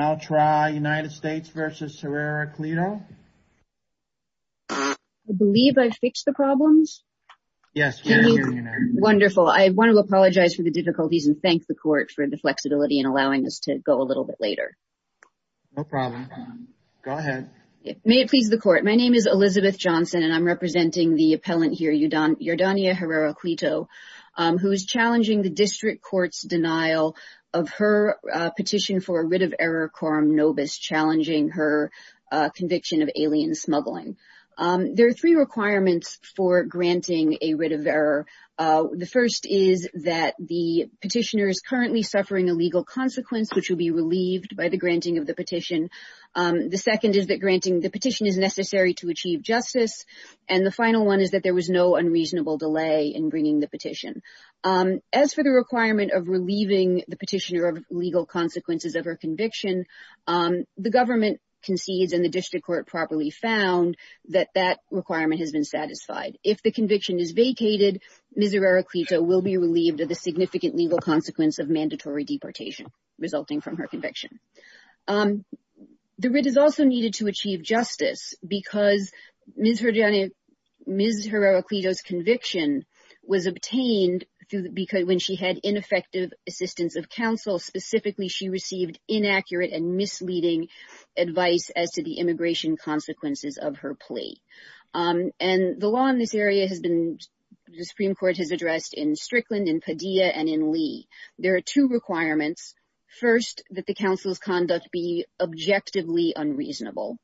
I believe I fixed the problems yes wonderful I want to apologize for the difficulties and thank the court for the flexibility and allowing us to go a little bit later no problem go ahead may it please the court my name is Elizabeth Johnson and I'm representing the appellant here Yordania Herrera-Cleto who is challenging the district courts denial of her petition for a writ of error quorum nobis challenging her conviction of alien smuggling there are three requirements for granting a writ of error the first is that the petitioner is currently suffering a legal consequence which will be relieved by the granting of the petition the second is that granting the petition is necessary to achieve justice and the final one is that there was no unreasonable delay in bringing the petition as for the requirement of conviction the government concedes and the district court properly found that that requirement has been satisfied if the conviction is vacated Ms. Herrera-Cleto will be relieved of the significant legal consequence of mandatory deportation resulting from her conviction the writ is also needed to achieve justice because Ms. Herrera-Cleto's conviction was obtained because when she had ineffective assistance of counsel specifically she had given inaccurate and misleading advice as to the immigration consequences of her plea and the law in this area has been the Supreme Court has addressed in Strickland in Padilla and in Lee there are two requirements first that the counsel's conduct be objectively unreasonable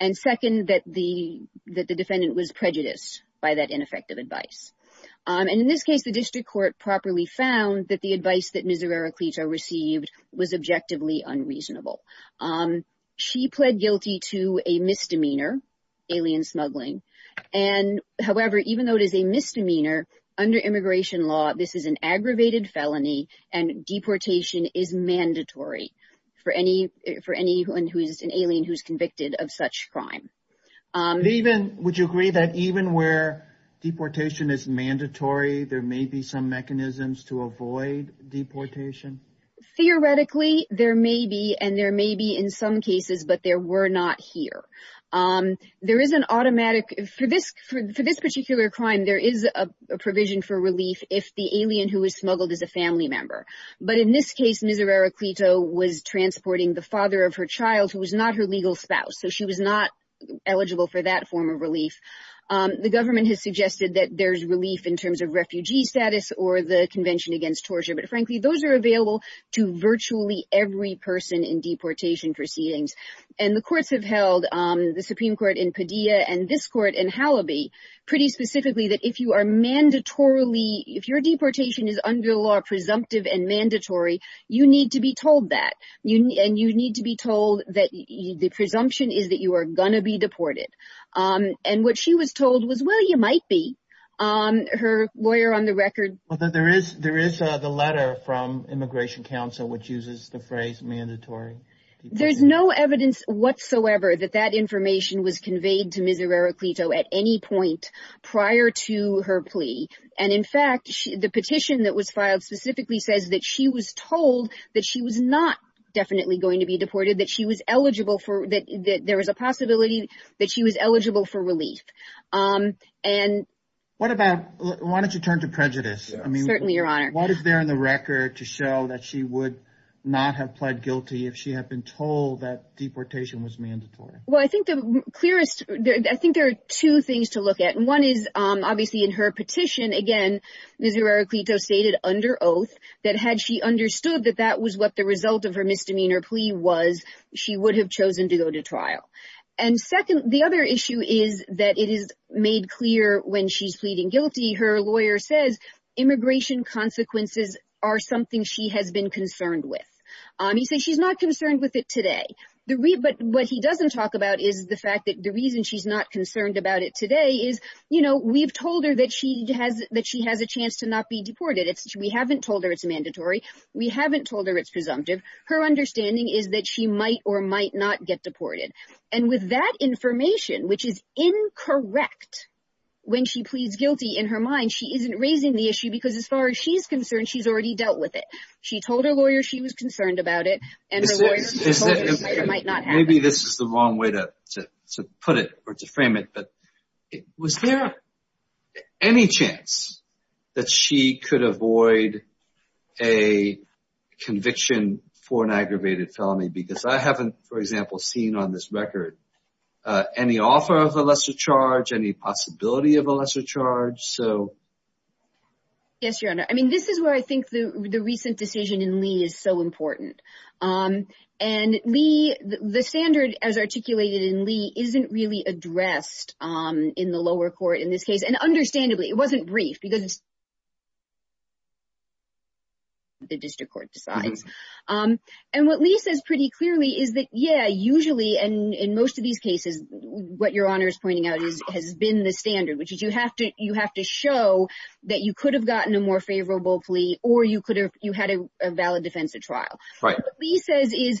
and second that the defendant was prejudiced by that ineffective advice and in this case the district court properly found that the advice that Ms. Herrera-Cleto received was objectively unreasonable she pled guilty to a misdemeanor alien smuggling and however even though it is a misdemeanor under immigration law this is an aggravated felony and deportation is mandatory for anyone who is an alien who's convicted of such crime even would you agree that even where deportation is mandatory there may be some mechanisms to avoid deportation theoretically there may be and there may be in some cases but there were not here there is an automatic for this for this particular crime there is a provision for relief if the alien who was smuggled as a family member but in this case Ms. Herrera-Cleto was transporting the father of her child who was not her legal spouse so she was not eligible for that form of relief the government has suggested that there's relief in terms of refugee status or the Convention against Torture but frankly those are available to virtually every person in deportation proceedings and the courts have held the Supreme Court in Padilla and this court in Halleby pretty specifically that if you are mandatorily if your deportation is under law presumptive and mandatory you need to be told that you need to be told that the presumption is that you are going to be deported and what she was told was well you might be her lawyer on the record there is there is the letter from Immigration Council which uses the phrase mandatory there's no evidence whatsoever that that information was conveyed to Ms. Herrera-Cleto at any point prior to her plea and in fact the petition that was filed specifically says that she was told that she was not definitely going to be deported that she was eligible for that there was a possibility that she was eligible for relief and what about why don't you turn to prejudice I mean certainly your honor what is there in the record to show that she would not have pled guilty if she had been told that deportation was mandatory well I think the clearest I think there are two things to look at and one is obviously in her petition again Ms. Herrera-Cleto stated under oath that had she understood that that was what the result of her misdemeanor plea was she would have chosen to go to trial and second the other issue is that it is made clear when she's pleading guilty her lawyer says immigration consequences are something she has been concerned with he said she's not concerned with it today the read but what he doesn't talk about is the fact that the reason she's not concerned about it today is you know we've told her that she has that she has a chance to not be deported it's we haven't told her it's mandatory we haven't told her it's presumptive her understanding is that she might or might not get deported and with that information which is incorrect when she pleads guilty in her mind she isn't raising the issue because as far as she's concerned she's already dealt with it she told her lawyer she was concerned about it and maybe this is the wrong way to put it or to frame it but it was there any chance that she could avoid a conviction for an aggravated felony because I haven't for example seen on this record any author of the lesser charge any possibility of a lesser charge so yes your honor I mean this is where I think the the recent decision in Lee is so important and Lee the standard as articulated in Lee isn't really addressed in the lower court in this case and understandably it wasn't brief because the district court decides and what Lee says pretty clearly is that yeah usually and in most of these cases what your honor is pointing out is has been the standard which is you have to you have to show that you could have gotten a more favorable plea or you could have you had a valid defensive trial right Lee says is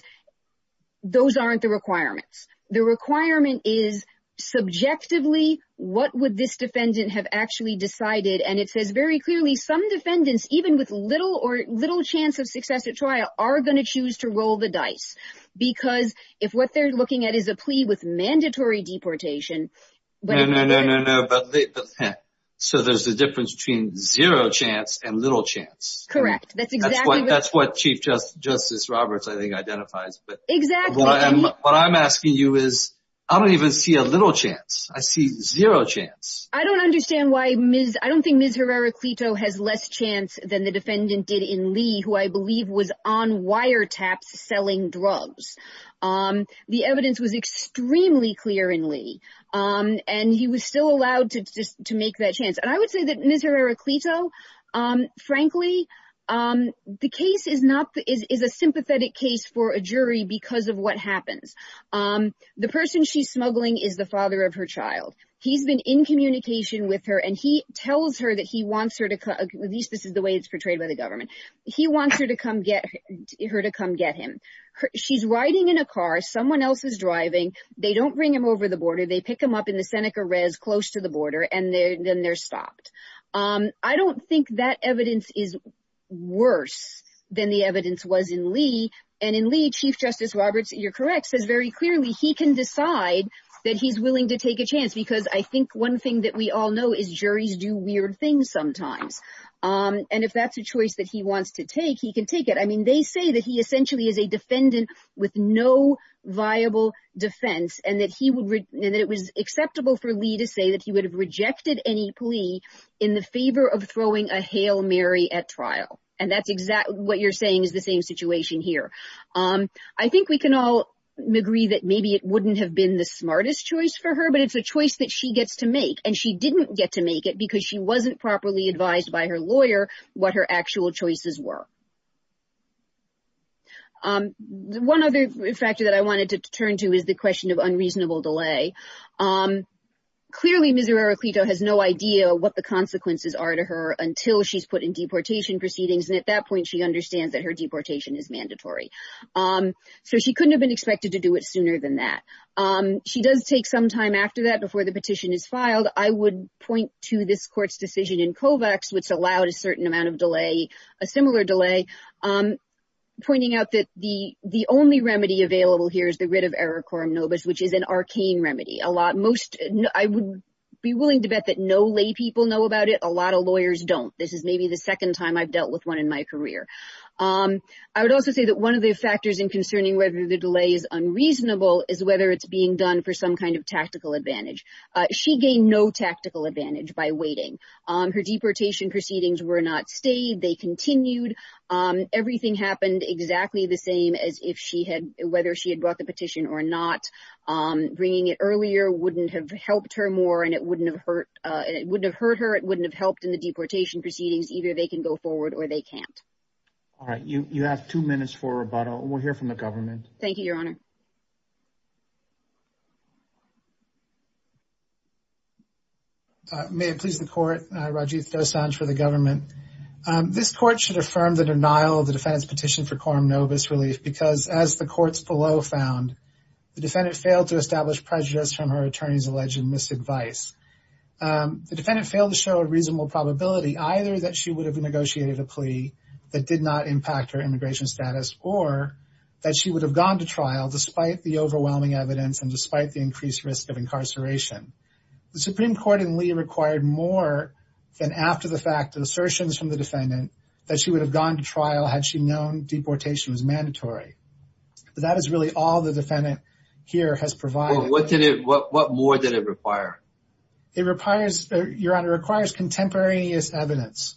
those aren't the requirements the requirement is subjectively what would this defendant have actually decided and it says very clearly some defendants even with little or little chance of success at trial are going to choose to roll the dice because if what they're looking at is a plea with mandatory deportation so there's a difference between zero chance and little chance correct that's what that's what Chief Justice Roberts I think identifies but exactly what I'm asking you is I don't even see a little chance I see zero chance I don't understand why I don't think Ms. Herrera-Clito has less chance than the defendant did in Lee who I believe was on wiretaps selling drugs the evidence was extremely clear in Lee and he was still allowed to just to make that chance and I would say that Ms. Herrera-Clito frankly the case is not is a sympathetic case for a jury because of what happens the person she's child he's been in communication with her and he tells her that he wants her to at least this is the way it's portrayed by the government he wants her to come get her to come get him she's riding in a car someone else is driving they don't bring him over the border they pick him up in the Seneca Rez close to the border and then they're stopped I don't think that evidence is worse than the evidence was in Lee and in Lee Chief Justice Roberts you're correct says very clearly he can decide that he's willing to take a chance because I think one thing that we all know is juries do weird things sometimes and if that's a choice that he wants to take he can take it I mean they say that he essentially is a defendant with no viable defense and that he would read and that it was acceptable for Lee to say that he would have rejected any plea in the favor of throwing a Hail Mary at trial and that's exactly what you're saying is the same situation here I think we can all agree that maybe it wouldn't have been the smartest choice for her but it's a choice that she gets to make and she didn't get to make it because she wasn't properly advised by her lawyer what her actual choices were one other factor that I wanted to turn to is the question of unreasonable delay clearly Missouri Araclito has no idea what the consequences are to her until she's put in deportation proceedings and at that she understands that her deportation is mandatory so she couldn't have been expected to do it sooner than that she does take some time after that before the petition is filed I would point to this court's decision in Kovacs which allowed a certain amount of delay a similar delay I'm pointing out that the the only remedy available here is the writ of error quorum novus which is an arcane remedy a lot most I would be willing to bet that no lay people know about it a lot of lawyers don't this is maybe the second time I've dealt with one in my career I would also say that one of the factors in concerning whether the delay is unreasonable is whether it's being done for some kind of tactical advantage she gained no tactical advantage by waiting on her deportation proceedings were not stayed they continued everything happened exactly the same as if she had whether she had brought the petition or not bringing it earlier wouldn't have helped her more and it wouldn't have hurt it wouldn't have hurt her it wouldn't have helped in the deportation proceedings either they can go forward or they can't all right you you have two minutes for rebuttal we'll hear from the government thank you your honor may it please the court Rajiv dosanjh for the government this court should affirm the denial of the defense petition for quorum novus relief because as the courts below found the defendant failed to establish prejudice from her attorneys alleged misadvice the defendant failed to show a reasonable probability either that she would have negotiated a plea that did not impact her immigration status or that she would have gone to trial despite the overwhelming evidence and despite the increased risk of incarceration the Supreme Court and Lee required more than after the fact of assertions from the defendant that she would have gone to trial had she known deportation was mandatory that is really all the defendant here has provided what did it what more did it require it requires your honor requires contemporaneous evidence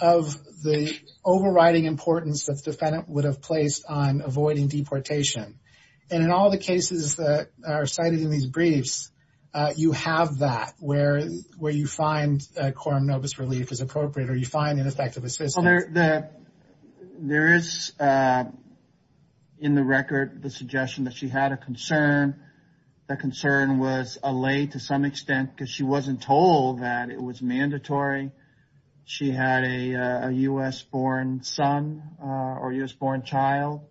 of the overriding importance that the defendant would have placed on avoiding deportation and in all the cases that are cited in these briefs you have that where where you find quorum novus relief is appropriate or you find an effective assistant there that there is in the record the suggestion that she had a concern the concern was a lay to some extent because she wasn't told that it was mandatory she had a US born son or US born child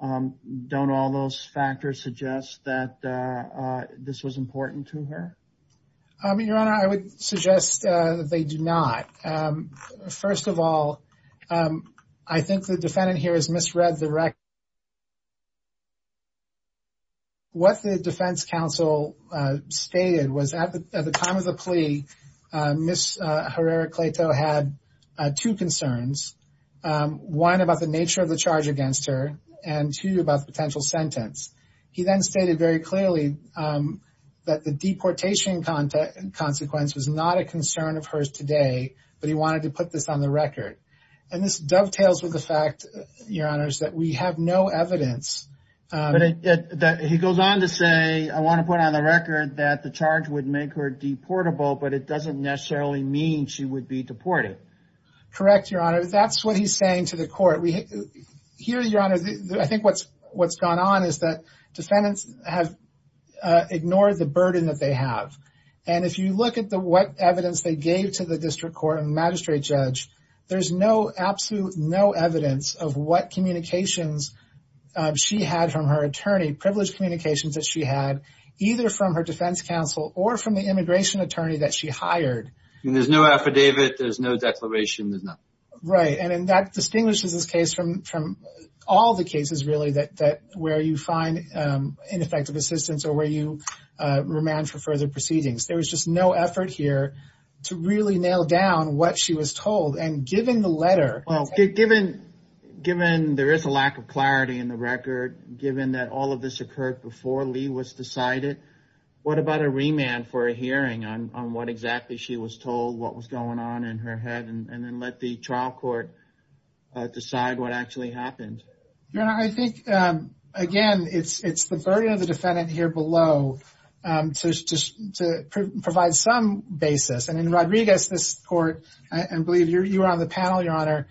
don't all those factors suggest that this was important to her I mean your honor I would suggest they do not first of all I think the defendant here is misread the record what the defense counsel stated was at the time of the plea miss Herrera-Claytoe had two concerns one about the nature of the charge against her and two about the potential sentence he then stated very clearly that the deportation consequence was not a concern of hers today but he wanted to put this on the record and this dovetails with the fact that we have no evidence that he goes on to say I want to put on the record that the charge would make her deportable but it doesn't necessarily mean she would be deported correct your honor that's what he's saying to the court we hear your I think what's what's gone on is that defendants have ignored the burden that they have and if you look at the what evidence they gave to the district court magistrate judge there's no absolute no evidence of what communications she had from her attorney privileged communications that she had either from her defense counsel or from the immigration attorney that she hired there's no affidavit there's no declaration that not right and that distinguishes this case from from all the cases really that that where you find ineffective assistance or where you remand for further proceedings there was just no effort here to really nail down what she was told and given the letter given given there is a lack of clarity in the record given that all of this occurred before Lee was decided what about a remand for a hearing on what exactly she was told what was going on in her head and then let the trial court decide what actually happened I think again it's it's the burden of the defendant here below to provide some basis and in Rodriguez this court and believe you're on the panel your honor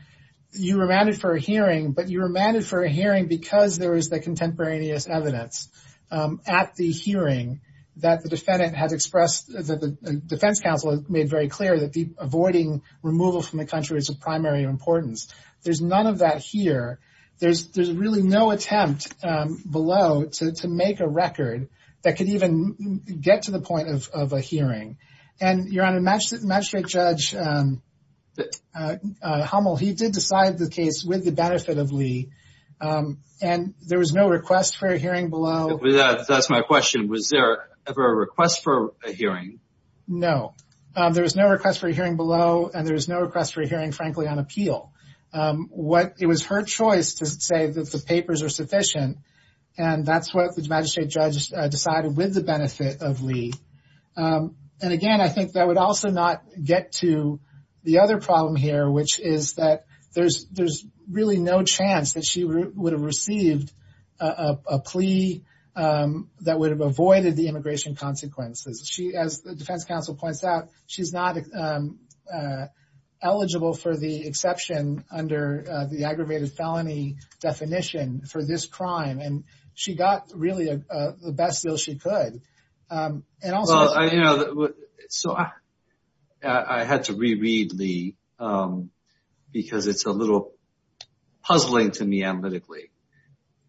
you remanded for a hearing but you remanded for a hearing because there is the contemporaneous evidence at the hearing that the defendant has expressed that the defense counsel made very clear that the avoiding removal from the country is of primary importance there's none of that here there's there's really no attempt below to make a record that could even get to the point of a hearing and you're on a match that match straight judge Hummel he did decide the case with the benefit of Lee and there was no request for a hearing below that's my question was there ever a request for a hearing below and there is no request for a hearing frankly on appeal what it was her choice to say that the papers are sufficient and that's what the magistrate judge decided with the benefit of Lee and again I think that would also not get to the other problem here which is that there's there's really no chance that she would have received a plea that would have avoided the immigration consequences she as the defense counsel points out she's not eligible for the exception under the aggravated felony definition for this crime and she got really the best deal she could so I had to reread the because it's a little puzzling to me analytically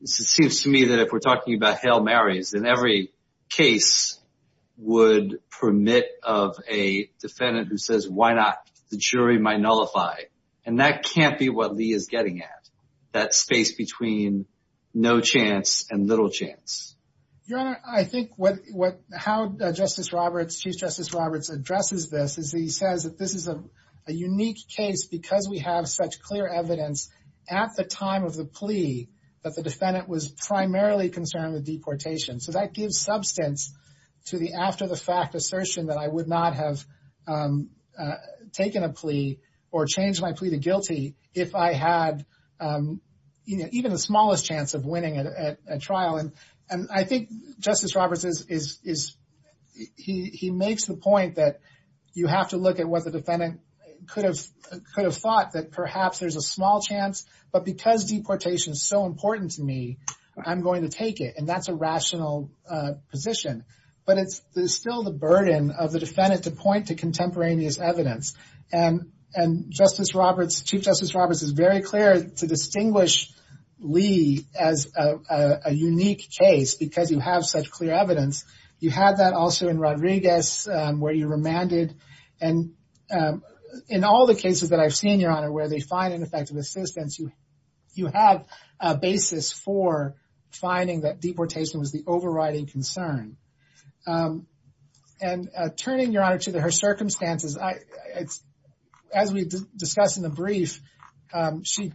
it seems to me that if we're talking about Hail Mary's in every case would permit of a defendant who says why not the jury might nullify and that can't be what Lee is getting at that space between no chance and little chance I think what what how Justice Roberts Chief Justice Roberts addresses this is he says that this is a unique case because we have such clear evidence at the time of the plea that the deportation so that gives substance to the after-the-fact assertion that I would not have taken a plea or change my plea to guilty if I had even the smallest chance of winning a trial and and I think Justice Roberts is is he makes the point that you have to look at what the defendant could have could have thought that perhaps there's a small chance but because deportation is so that's a rational position but it's still the burden of the defendant to point to contemporaneous evidence and and Justice Roberts Chief Justice Roberts is very clear to distinguish Lee as a unique case because you have such clear evidence you had that also in Rodriguez where you remanded and in all the cases that I've seen your honor where they find ineffective assistance you you have a basis for finding that deportation was the overriding concern and turning your honor to the her circumstances I it's as we discussed in the brief she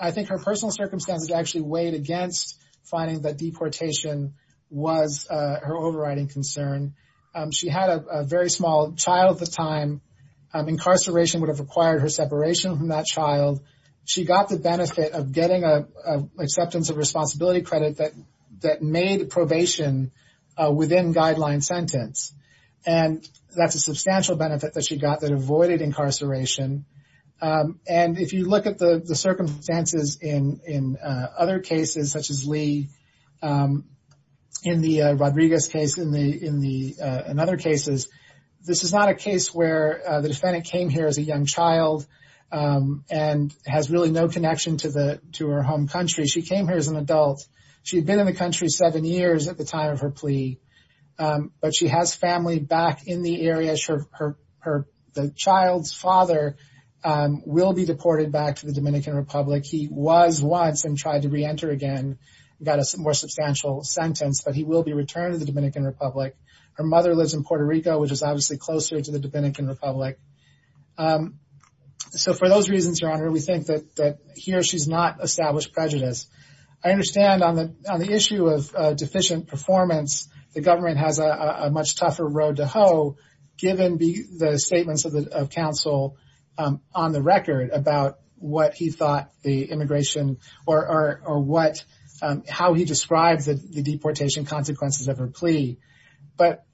I think her personal circumstances actually weighed against finding that deportation was her overriding concern she had a very small child at the time incarceration would have required her separation from that child she got the benefit of getting a acceptance of responsibility credit that that made probation within guideline sentence and that's a substantial benefit that she got that avoided incarceration and if you look at the circumstances in in other cases such as Lee in the Rodriguez case in the in the another case is this is not a case where the defendant came here as a young child and has really no connection to the to her home country she came here as an adult she'd been in the country seven years at the time of her plea but she has family back in the area sure her the child's father will be deported back to the Dominican Republic he was once and tried to reenter again got a more public mother lives in Puerto Rico which is obviously closer to the Dominican Republic so for those reasons we think that here she's not established prejudice I understand on the issue of deficient performance the government has a much tougher road to hoe given the statements of the council on the record about what he thought the immigration or or or what how he describes it the but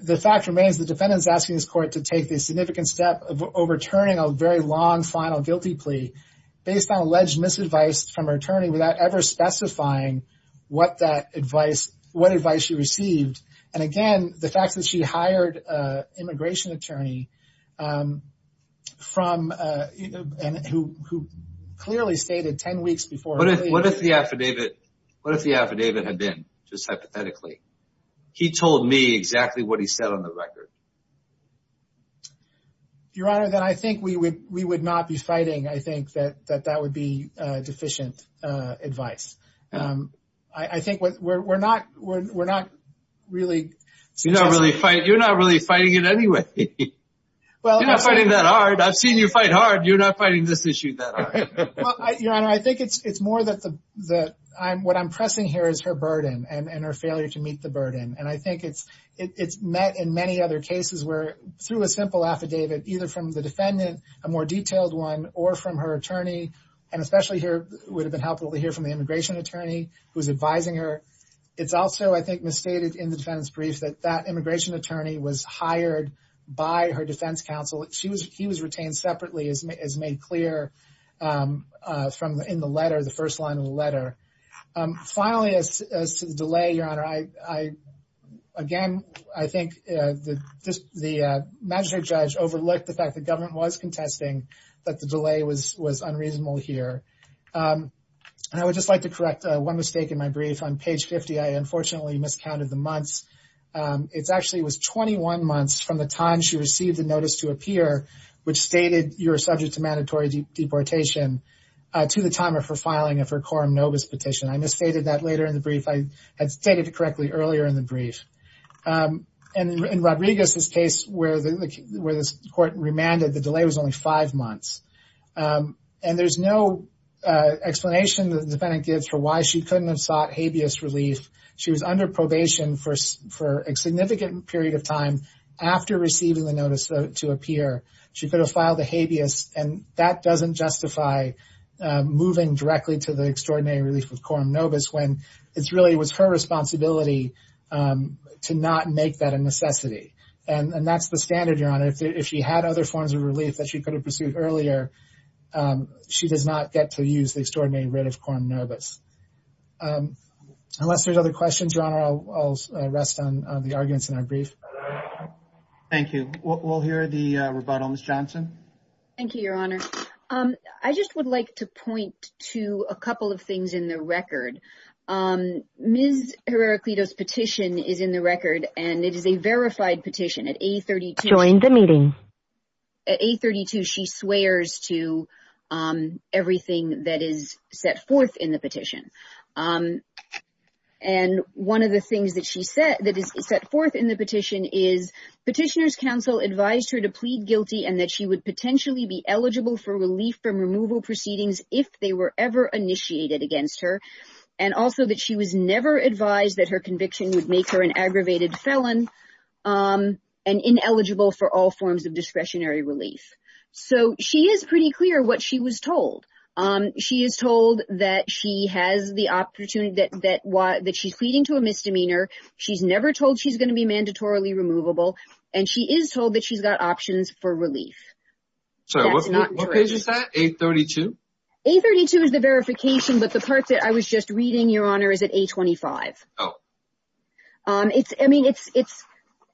the fact remains the defendant's asking this court to take this significant step of overturning a very long final guilty plea based on alleged misadvice from her attorney without ever specifying what that advice what advice she received and again the fact that she hired immigration attorney from who clearly stated ten weeks before what if the affidavit what if the affidavit had just hypothetically he told me exactly what he said on the record your honor that I think we would we would not be fighting I think that that that would be deficient advice I think what we're not we're not really you know really fight you're not really fighting it anyway well I'm not fighting that hard I've seen you fight hard you're not fighting this issue that I think it's it's more that the that I'm what I'm pressing here is her burden and and her failure to meet the burden and I think it's it's met in many other cases where through a simple affidavit either from the defendant a more detailed one or from her attorney and especially here would have been helpful to hear from the immigration attorney who's advising her it's also I think misstated in the defendant's brief that that immigration attorney was hired by her defense counsel she was he was retained separately as made clear from in the letter the first line of the letter finally as to the delay your honor I I again I think the magistrate judge overlooked the fact the government was contesting that the delay was was unreasonable here and I would just like to correct one mistake in my brief on page 50 I unfortunately miscounted the months it's actually was 21 months from the time she received the notice to appear which stated you're subject to mandatory deportation to the time of her filing of her quorum novus petition I misstated that later in the brief I had stated correctly earlier in the brief and in Rodriguez's case where the where this court remanded the delay was only five months and there's no explanation that the defendant gives for why she couldn't have sought habeas relief she was under probation for for a significant period of time after receiving the notice to appear she could have filed a habeas and that doesn't justify moving directly to the extraordinary relief of quorum novus when it's really was her responsibility to not make that a necessity and that's the standard your honor if she had other forms of relief that she could have pursued earlier she does not get to use the extraordinary rate of quorum novus unless there's other questions your honor I'll rest on the arguments in our brief thank you we'll hear the rebuttal miss I just would like to point to a couple of things in the record miss Herrera-Cledo's petition is in the record and it is a verified petition at a 32 in the meeting a 32 she swears to everything that is set forth in the petition and one of the things that she said that is set forth in the petition is petitioners counsel advised her to plead guilty and that she would potentially be eligible for relief from removal proceedings if they were ever initiated against her and also that she was never advised that her conviction would make her an aggravated felon and ineligible for all forms of discretionary relief so she is pretty clear what she was told she is told that she has the opportunity that why that she's pleading to a misdemeanor she's never told she's going to be mandatorily removable and she is told that she's got options for relief so what page is that 832 832 is the verification but the part that I was just reading your honor is at 825 oh it's I mean it's it's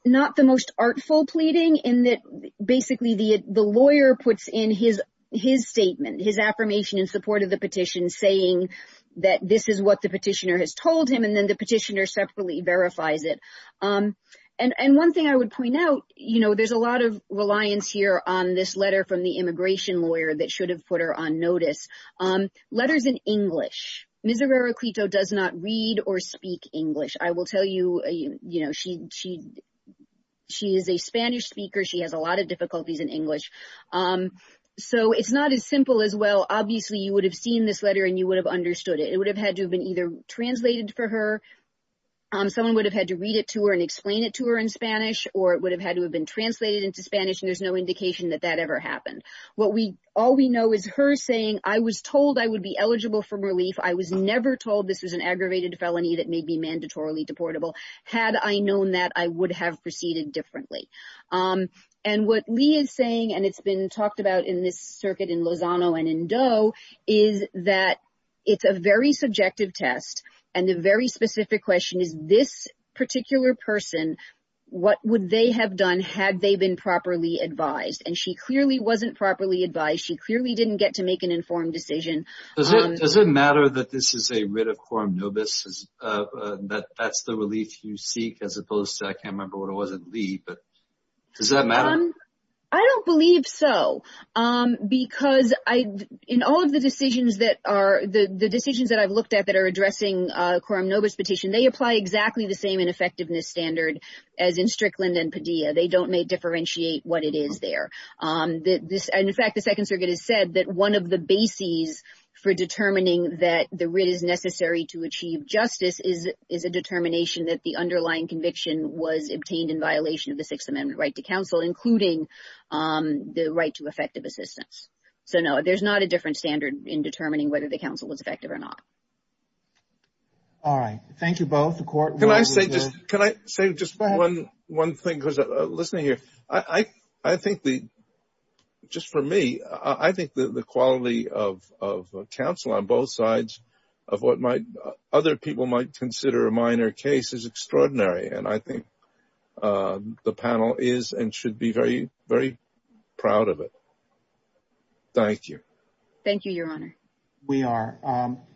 not the most artful pleading in that basically the the lawyer puts in his his statement his affirmation in support of the petition saying that this is what the petitioner has told him and then the petitioner separately verifies it and one thing I would point out you know there's a lot of reliance here on this letter from the immigration lawyer that should have put her on notice on letters in English misery Rokito does not read or speak English I will tell you you know she she she is a Spanish speaker she has a lot of difficulties in English so it's not as simple as well obviously you would have seen this letter and you would have understood it it would have had to have been either translated for someone would have had to read it to her and explain it to her in Spanish or it would have had to have been translated into Spanish there's no indication that that ever happened what we all we know is her saying I was told I would be eligible for relief I was never told this is an aggravated felony that may be mandatorily deportable had I known that I would have proceeded differently and what Lee is saying and it's been talked about in this circuit in Lozano and in very specific question is this particular person what would they have done had they been properly advised and she clearly wasn't properly advised she clearly didn't get to make an informed decision does it matter that this is a writ of quorum nobis that that's the relief you seek as opposed to I can't remember what it wasn't Lee but does that matter I don't believe so because I in all of the decisions that are the the decisions that I've looked at that are addressing quorum nobis petition they apply exactly the same in effectiveness standard as in Strickland and Padilla they don't may differentiate what it is there this and in fact the Second Circuit has said that one of the bases for determining that the writ is necessary to achieve justice is is a determination that the underlying conviction was obtained in violation of the Sixth Amendment right to counsel including the right to effective assistance so no there's not a different standard in determining whether the all right thank you both the court can I say just can I say just one one thing because listening here I I think the just for me I think the quality of counsel on both sides of what might other people might consider a minor case is extraordinary and I think the panel is and should be very very proud of it thank you thank you your honor we are